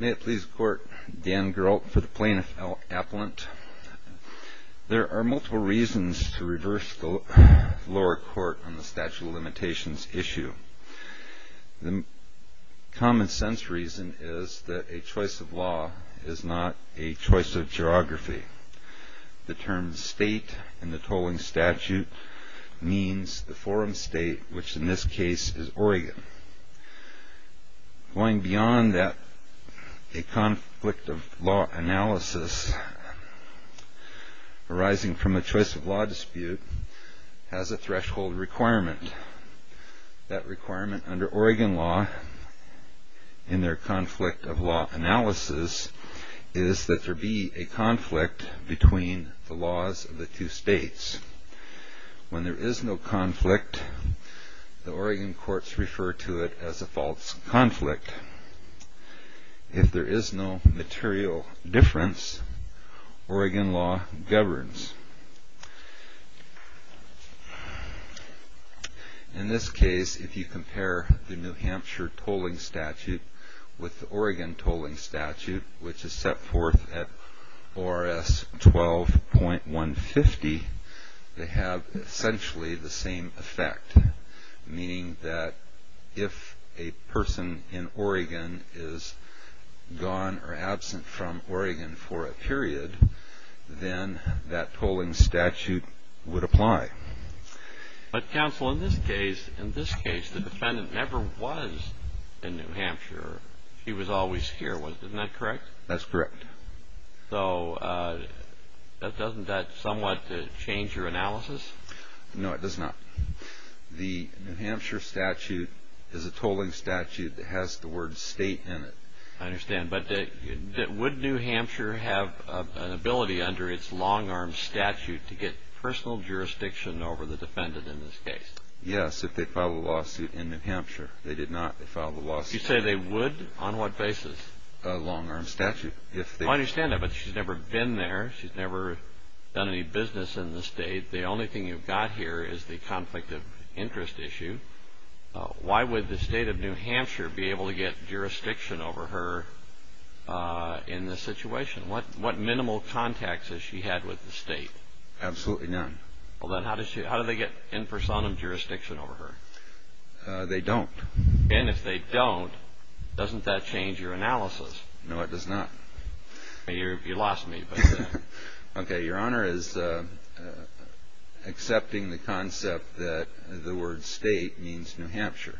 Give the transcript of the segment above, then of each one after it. May it please the Court, Dan Geralt for the Plaintiff Appellant. There are multiple reasons to reverse the lower court on the statute of limitations issue. The common sense reason is that a choice of law is not a choice of geography. The term state in the tolling statute means the forum state, which in this case is Oregon. Going beyond that, a conflict of law analysis arising from a choice of law dispute has a threshold requirement. That requirement under Oregon law in their conflict of law analysis is that there be a conflict between the laws of the two states. When there is no conflict, the Oregon courts refer to it as a false conflict. If there is no material difference, Oregon law governs. In this case, if you compare the New Hampshire tolling statute with the Oregon tolling statute, which is set forth at ORS 12.150, they have essentially the same effect. Meaning that if a person in Oregon is gone or absent from Oregon for a period, then that tolling statute would apply. But counsel, in this case, the defendant never was in New Hampshire. She was always here, wasn't that correct? That's correct. So doesn't that somewhat change your analysis? No, it does not. The New Hampshire statute is a tolling statute that has the word state in it. I understand. But would New Hampshire have an ability under its long-arm statute to get personal jurisdiction over the defendant in this case? Yes, if they filed a lawsuit in New Hampshire. They did not. You say they would? On what basis? Under its long-arm statute. I understand that, but she's never been there. She's never done any business in the state. The only thing you've got here is the conflict of interest issue. Why would the state of New Hampshire be able to get jurisdiction over her in this situation? What minimal contacts has she had with the state? Absolutely none. Well, then how do they get in personam jurisdiction over her? They don't. And if they don't, doesn't that change your analysis? No, it does not. You lost me. Okay. Your Honor is accepting the concept that the word state means New Hampshire.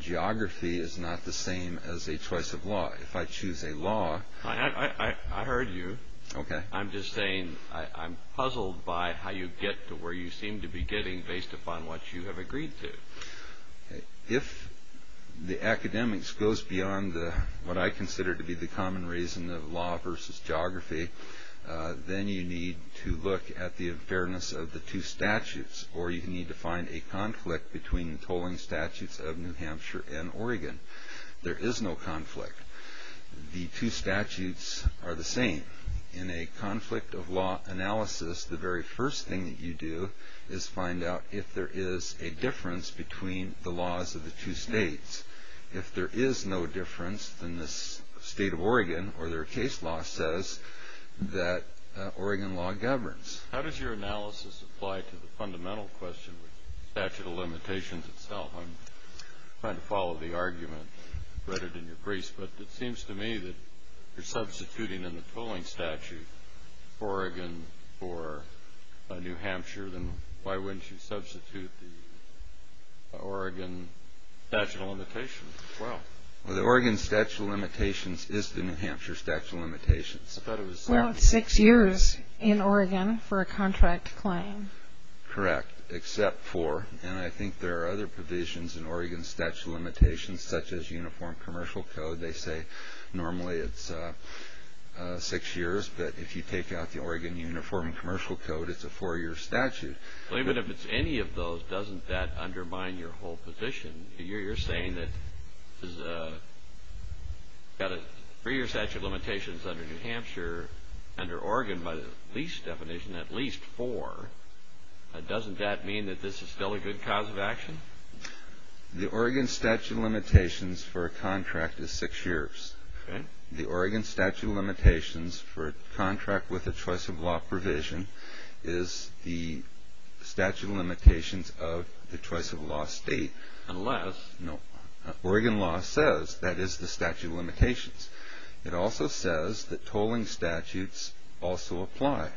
Geography is not the same as a choice of law. If I choose a law... I heard you. Okay. I'm just saying I'm puzzled by how you get to where you seem to be getting based upon what you have agreed to. If the academics goes beyond what I consider to be the common reason of law versus geography, then you need to look at the fairness of the two statutes, or you need to find a conflict between the tolling statutes of New Hampshire and Oregon. There is no conflict. The two statutes are the same. In a conflict of law analysis, the very first thing that you do is find out if there is a difference between the laws of the two states. If there is no difference, then the state of Oregon or their case law says that Oregon law governs. How does your analysis apply to the fundamental question with statute of limitations itself? I'm trying to follow the argument. I read it in your briefs, but it seems to me that you're substituting in the tolling statute Oregon for New Hampshire. Then why wouldn't you substitute the Oregon statute of limitations as well? Well, the Oregon statute of limitations is the New Hampshire statute of limitations. Well, it's six years in Oregon for a contract claim. Correct, except for... In Oregon statute of limitations, such as uniform commercial code, they say normally it's six years, but if you take out the Oregon uniform commercial code, it's a four-year statute. Even if it's any of those, doesn't that undermine your whole position? You're saying that you've got a three-year statute of limitations under New Hampshire, under Oregon by the lease definition, at least four. Doesn't that mean that this is still a good cause of action? The Oregon statute of limitations for a contract is six years. The Oregon statute of limitations for a contract with a choice of law provision is the statute of limitations of the choice of law state. Unless... It also says that tolling statutes also apply.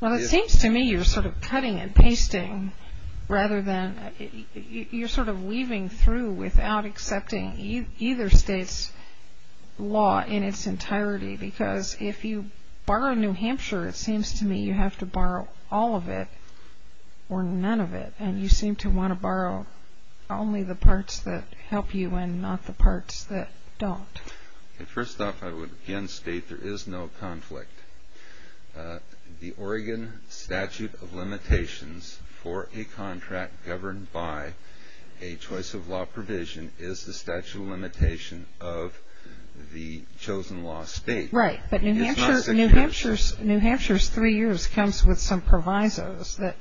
Well, it seems to me you're sort of cutting and pasting rather than... You're sort of weaving through without accepting either state's law in its entirety, because if you borrow New Hampshire, it seems to me you have to borrow all of it or none of it, and you seem to want to borrow only the parts that help you and not the parts that don't. First off, I would again state there is no conflict. The Oregon statute of limitations for a contract governed by a choice of law provision is the statute of limitation of the chosen law state. Right, but New Hampshire's three years comes with some provisos that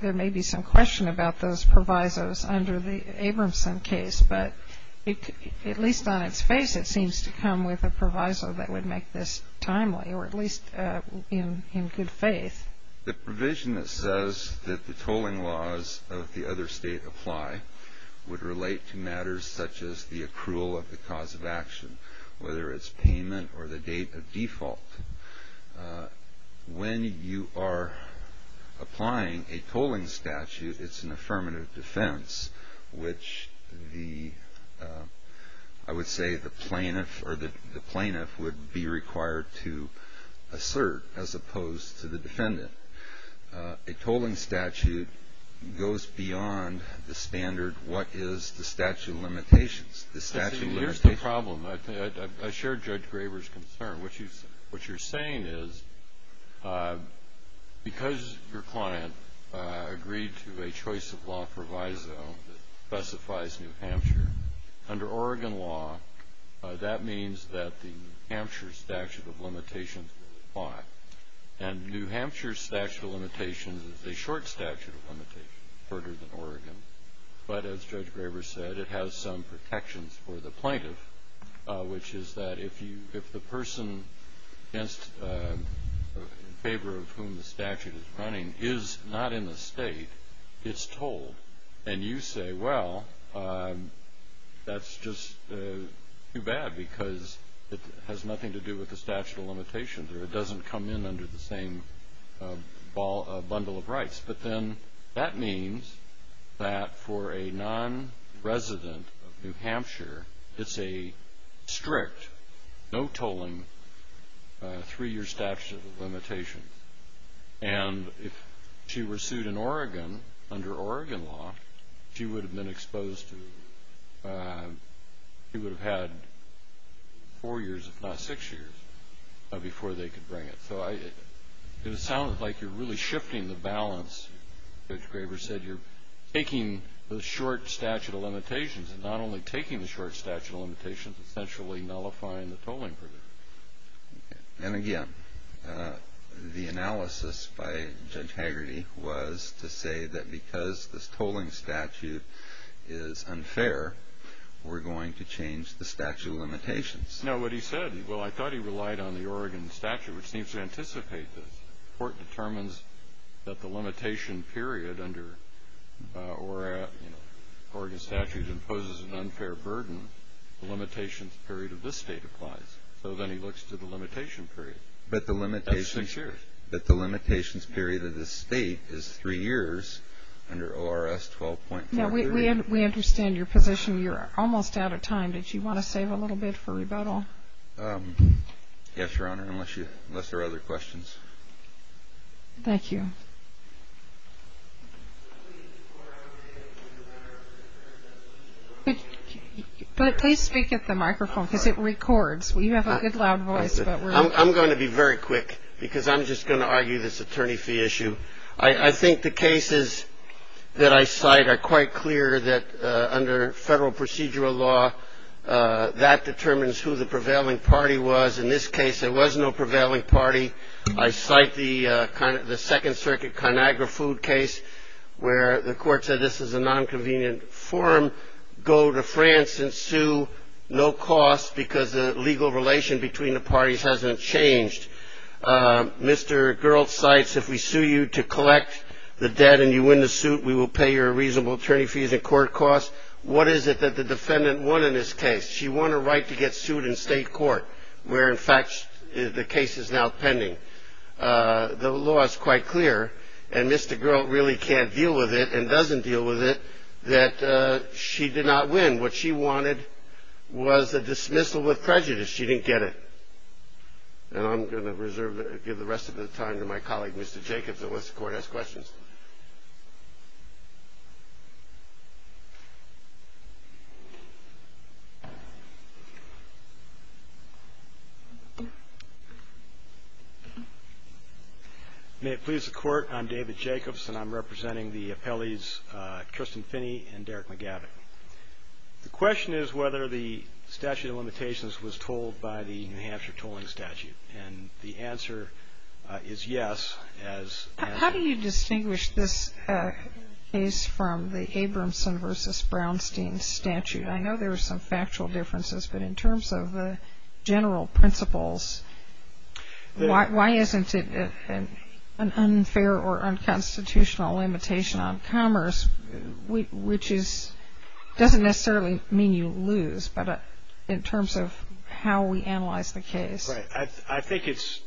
there may be some question about those provisos under the Abramson case, but at least on its face it seems to come with a proviso that would make this timely or at least in good faith. The provision that says that the tolling laws of the other state apply would relate to matters such as the accrual of the cause of action, whether it's payment or the date of default. When you are applying a tolling statute, it's an affirmative defense, which I would say the plaintiff would be required to assert as opposed to the defendant. A tolling statute goes beyond the standard what is the statute of limitations. Here's the problem. I share Judge Graber's concern. What you're saying is because your client agreed to a choice of law proviso that specifies New Hampshire, under Oregon law that means that the New Hampshire statute of limitations will apply, and New Hampshire's statute of limitations is a short statute of limitations, shorter than Oregon, but as Judge Graber said, it has some protections for the plaintiff, which is that if the person in favor of whom the statute is running is not in the state, it's tolled, and you say, well, that's just too bad because it has nothing to do with the statute of limitations or it doesn't come in under the same bundle of rights. But then that means that for a non-resident of New Hampshire, it's a strict, no tolling, three-year statute of limitations. And if she were sued in Oregon, under Oregon law, she would have been exposed to, she would have had four years, if not six years, before they could bring it. So it sounds like you're really shifting the balance. Judge Graber said you're taking the short statute of limitations and not only taking the short statute of limitations, essentially nullifying the tolling. And again, the analysis by Judge Hagerty was to say that because this tolling statute is unfair, No, what he said, well, I thought he relied on the Oregon statute, which seems to anticipate this. The court determines that the limitation period under Oregon statute imposes an unfair burden. The limitations period of this state applies. So then he looks to the limitation period. That's six years. But the limitations period of this state is three years under ORS 12.43. Now, we understand your position. You're almost out of time. Did you want to save a little bit for rebuttal? Yes, Your Honor, unless there are other questions. Thank you. But please speak at the microphone because it records. You have a good, loud voice. I'm going to be very quick because I'm just going to argue this attorney fee issue. I think the cases that I cite are quite clear that under federal procedural law, that determines who the prevailing party was. In this case, there was no prevailing party. I cite the Second Circuit ConAgra food case where the court said this is a nonconvenient form. Go to France and sue no cost because the legal relation between the parties hasn't changed. Mr. Gerlt cites if we sue you to collect the debt and you win the suit, we will pay your reasonable attorney fees and court costs. What is it that the defendant won in this case? She won a right to get sued in state court where, in fact, the case is now pending. The law is quite clear, and Mr. Gerlt really can't deal with it and doesn't deal with it that she did not win. What she wanted was a dismissal with prejudice. She didn't get it. And I'm going to give the rest of the time to my colleague, Mr. Jacobs, and let the court ask questions. May it please the Court, I'm David Jacobs, and I'm representing the appellees Kirsten Finney and Derek McGavin. The question is whether the statute of limitations was told by the New Hampshire tolling statute, and the answer is yes. How do you distinguish this case from the Abramson v. Brownstein statute? I know there are some factual differences, but in terms of the general principles, why isn't it an unfair or unconstitutional limitation on commerce, which doesn't necessarily mean you lose, but in terms of how we analyze the case? Right. I think it's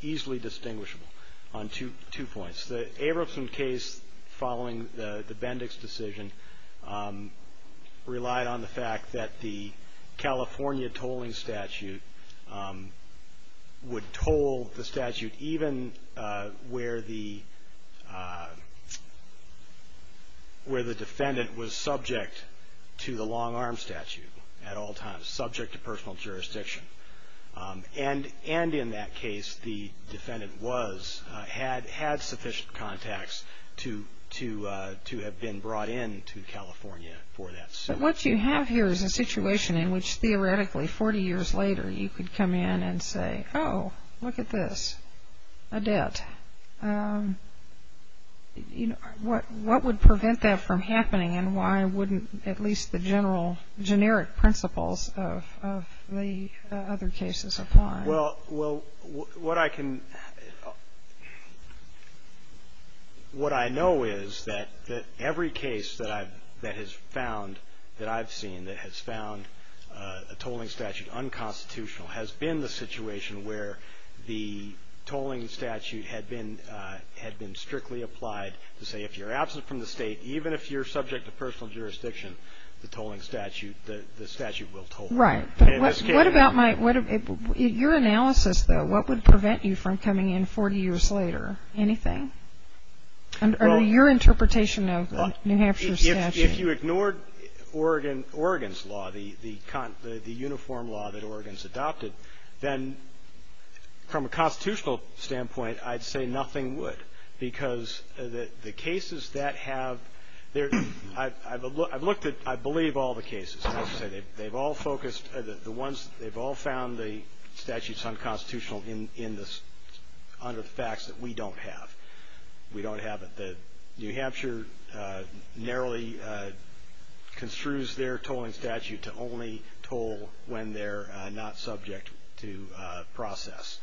easily distinguishable on two points. The Abramson case following the Bendix decision relied on the fact that the California tolling statute would toll the statute even where the defendant was subject to the long-arm statute at all times, subject to personal jurisdiction. And in that case, the defendant had sufficient contacts to have been brought in to California for that. But what you have here is a situation in which, theoretically, 40 years later, you could come in and say, oh, look at this, a debt. What would prevent that from happening, and why wouldn't at least the generic principles of the other cases apply? Well, what I know is that every case that has found, that I've seen, that has found a tolling statute unconstitutional has been the situation where the tolling statute had been strictly applied to say if you're absent from the state, even if you're subject to personal jurisdiction, the tolling statute, the statute will toll. Right. But what about my – your analysis, though, what would prevent you from coming in 40 years later? Anything? Under your interpretation of the New Hampshire statute. If you ignored Oregon's law, the uniform law that Oregon's adopted, then from a constitutional standpoint, I'd say nothing would. Because the cases that have – I've looked at, I believe, all the cases. And I would say they've all focused – the ones – they've all found the statutes unconstitutional in this under the facts that we don't have. We don't have it. The New Hampshire narrowly construes their tolling statute to only toll when they're not subject to process.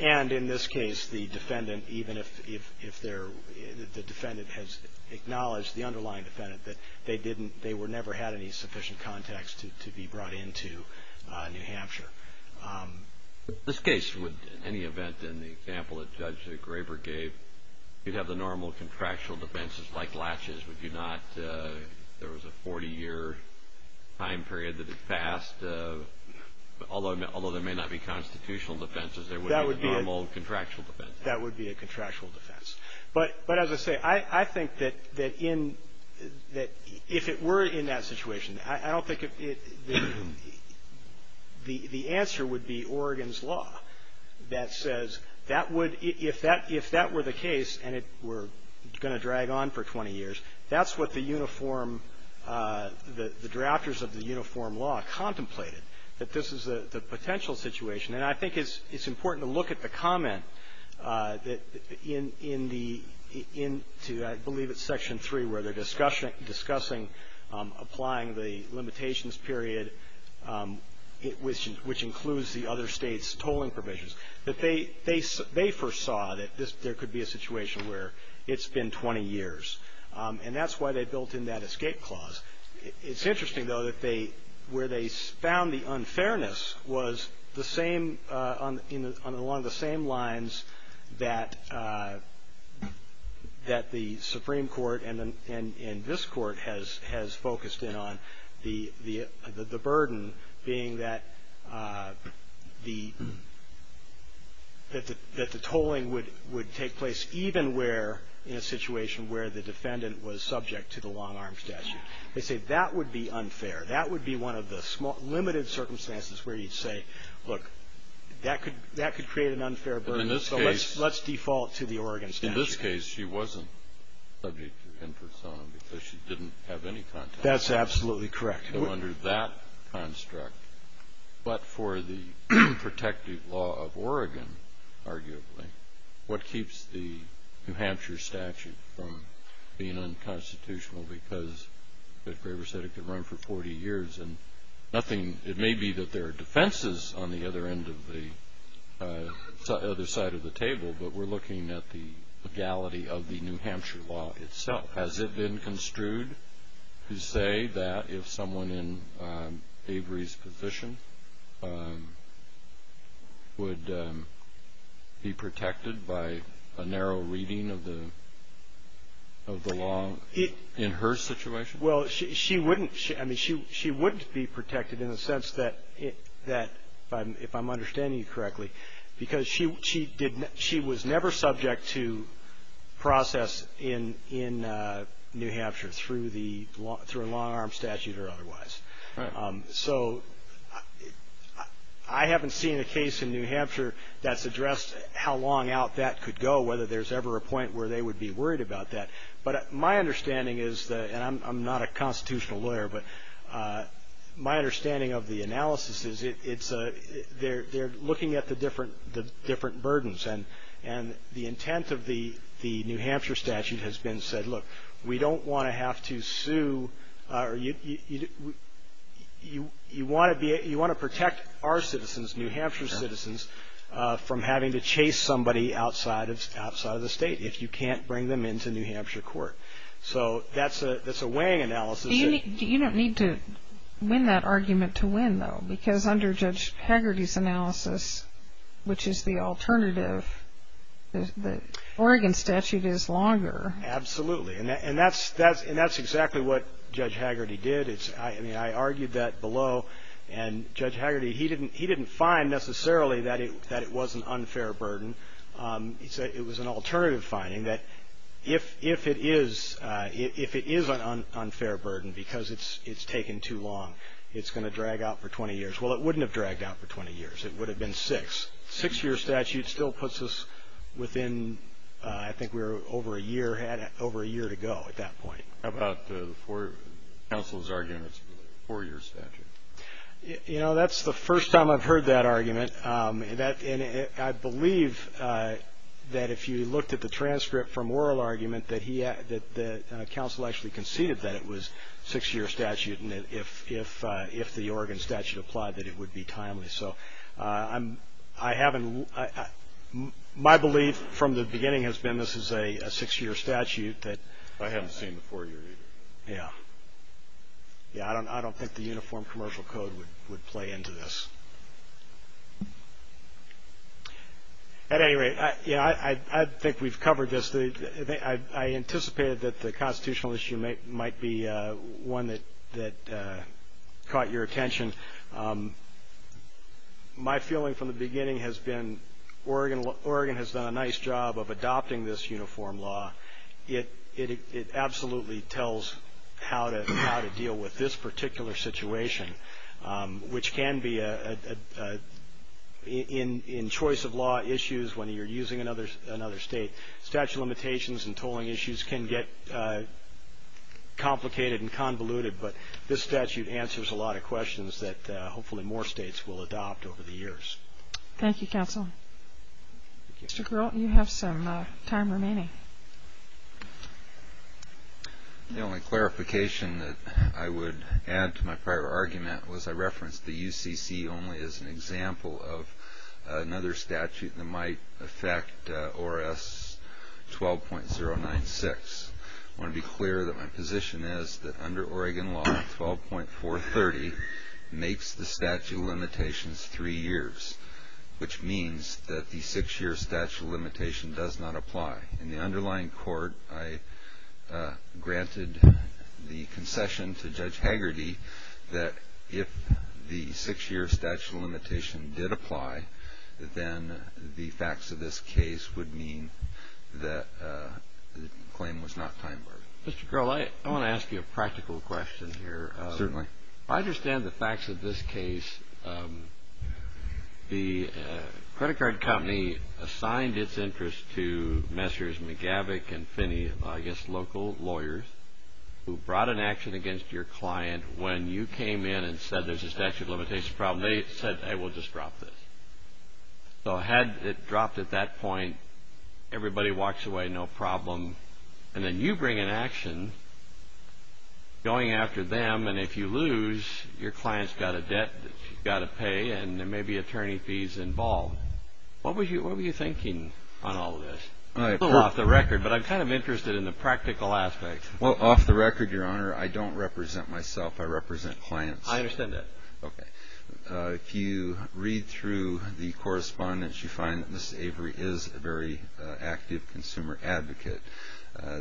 And in this case, the defendant, even if they're – the defendant has acknowledged, the underlying defendant, that they didn't – they never had any sufficient context to be brought into New Hampshire. This case would, in any event, in the example that Judge Graber gave, you'd have the normal contractual defenses like latches, would you not? There was a 40-year time period that it passed. Although there may not be constitutional defenses, there would be normal contractual defenses. That would be a contractual defense. But as I say, I think that in – that if it were in that situation, I don't think it – the answer would be Oregon's law that says that would – if that were the case and it were going to drag on for 20 years, that's what the uniform – the drafters of the uniform law contemplated, that this is the potential situation. And I think it's important to look at the comment that in the – into, I believe, it's Section 3, where they're discussing applying the limitations period, which includes the other states' tolling provisions, that they foresaw that there could be a situation where it's been 20 years. And that's why they built in that escape clause. It's interesting, though, that they – where they found the unfairness was the same on – along the same lines that the Supreme Court and this Court has focused in on, the burden being that the tolling would take place even where – statute. They say that would be unfair. That would be one of the small – limited circumstances where you'd say, look, that could create an unfair burden, so let's default to the Oregon statute. In this case, she wasn't subject to infersona because she didn't have any contact. That's absolutely correct. So under that construct, but for the protective law of Oregon, arguably, what keeps the New Hampshire statute from being unconstitutional because, as Gregor said, it could run for 40 years and nothing – it may be that there are defenses on the other end of the – other side of the table, but we're looking at the legality of the New Hampshire law itself. Has it been construed to say that if someone in Avery's position would be protected by a narrow reading of the law in her situation? Well, she wouldn't. I mean, she wouldn't be protected in the sense that, if I'm understanding you correctly, because she did – she was never subject to process in New Hampshire through the – through a long-arm statute or otherwise. Right. So I haven't seen a case in New Hampshire that's addressed how long out that could go, whether there's ever a point where they would be worried about that. But my understanding is – and I'm not a constitutional lawyer, but my understanding of the analysis is it's – they're looking at the different burdens. And the intent of the New Hampshire statute has been said, look, we don't want to have to sue – you want to protect our citizens, New Hampshire citizens, from having to chase somebody outside of the state if you can't bring them into New Hampshire court. So that's a weighing analysis. You don't need to win that argument to win, though, because under Judge Hagerty's analysis, which is the alternative, the Oregon statute is longer. Absolutely. And that's exactly what Judge Hagerty did. I mean, I argued that below. And Judge Hagerty, he didn't find necessarily that it was an unfair burden. It was an alternative finding that if it is an unfair burden because it's taken too long, it's going to drag out for 20 years. Well, it wouldn't have dragged out for 20 years. It would have been six. Six-year statute still puts us within – I think we're over a year to go at that point. How about the four – counsel's argument it's a four-year statute? And I believe that if you looked at the transcript from oral argument, that the counsel actually conceded that it was a six-year statute and that if the Oregon statute applied that it would be timely. So I haven't – my belief from the beginning has been this is a six-year statute. I haven't seen the four-year either. Yeah. Yeah, I don't think the uniform commercial code would play into this. At any rate, yeah, I think we've covered this. I anticipated that the constitutional issue might be one that caught your attention. My feeling from the beginning has been Oregon has done a nice job of adopting this uniform law. It absolutely tells how to deal with this particular situation, which can be in choice of law issues when you're using another state. Statute limitations and tolling issues can get complicated and convoluted, but this statute answers a lot of questions that hopefully more states will adopt over the years. Thank you, counsel. Mr. Groten, you have some time remaining. The only clarification that I would add to my prior argument was I referenced the UCC only as an example of another statute that might affect ORS 12.096. I want to be clear that my position is that under Oregon law, 12.430 makes the statute limitations three years, which means that the six-year statute limitation does not apply. In the underlying court, I granted the concession to Judge Hagerty that if the six-year statute limitation did apply, then the facts of this case would mean that the claim was not time-barred. Mr. Grohl, I want to ask you a practical question here. Certainly. I understand the facts of this case. The credit card company assigned its interest to Messrs. McGavick and Finney, I guess local lawyers, who brought an action against your client when you came in and said there's a statute limitation problem. They said, hey, we'll just drop this. So had it dropped at that point, everybody walks away no problem, and then you bring an action going after them, and if you lose, your client's got a debt that you've got to pay and there may be attorney fees involved. What were you thinking on all of this? A little off the record, but I'm kind of interested in the practical aspect. Well, off the record, Your Honor, I don't represent myself. I represent clients. I understand that. Okay. If you read through the correspondence, you find that Mrs. Avery is a very active consumer advocate.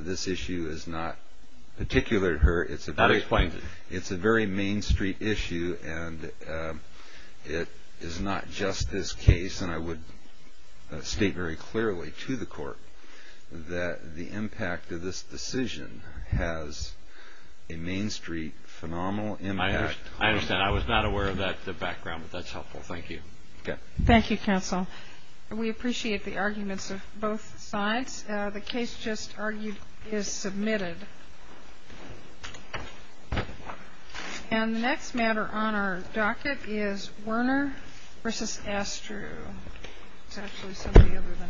This issue is not particular to her. That explains it. It's a very Main Street issue, and it is not just this case, and I would state very clearly to the Court that the impact of this decision has a Main Street phenomenal impact. I understand. I was not aware of that background, but that's helpful. Thank you. Okay. Thank you, counsel. We appreciate the arguments of both sides. The case just argued is submitted. And the next matter on our docket is Werner v. Astru. It's actually somebody other than Astru.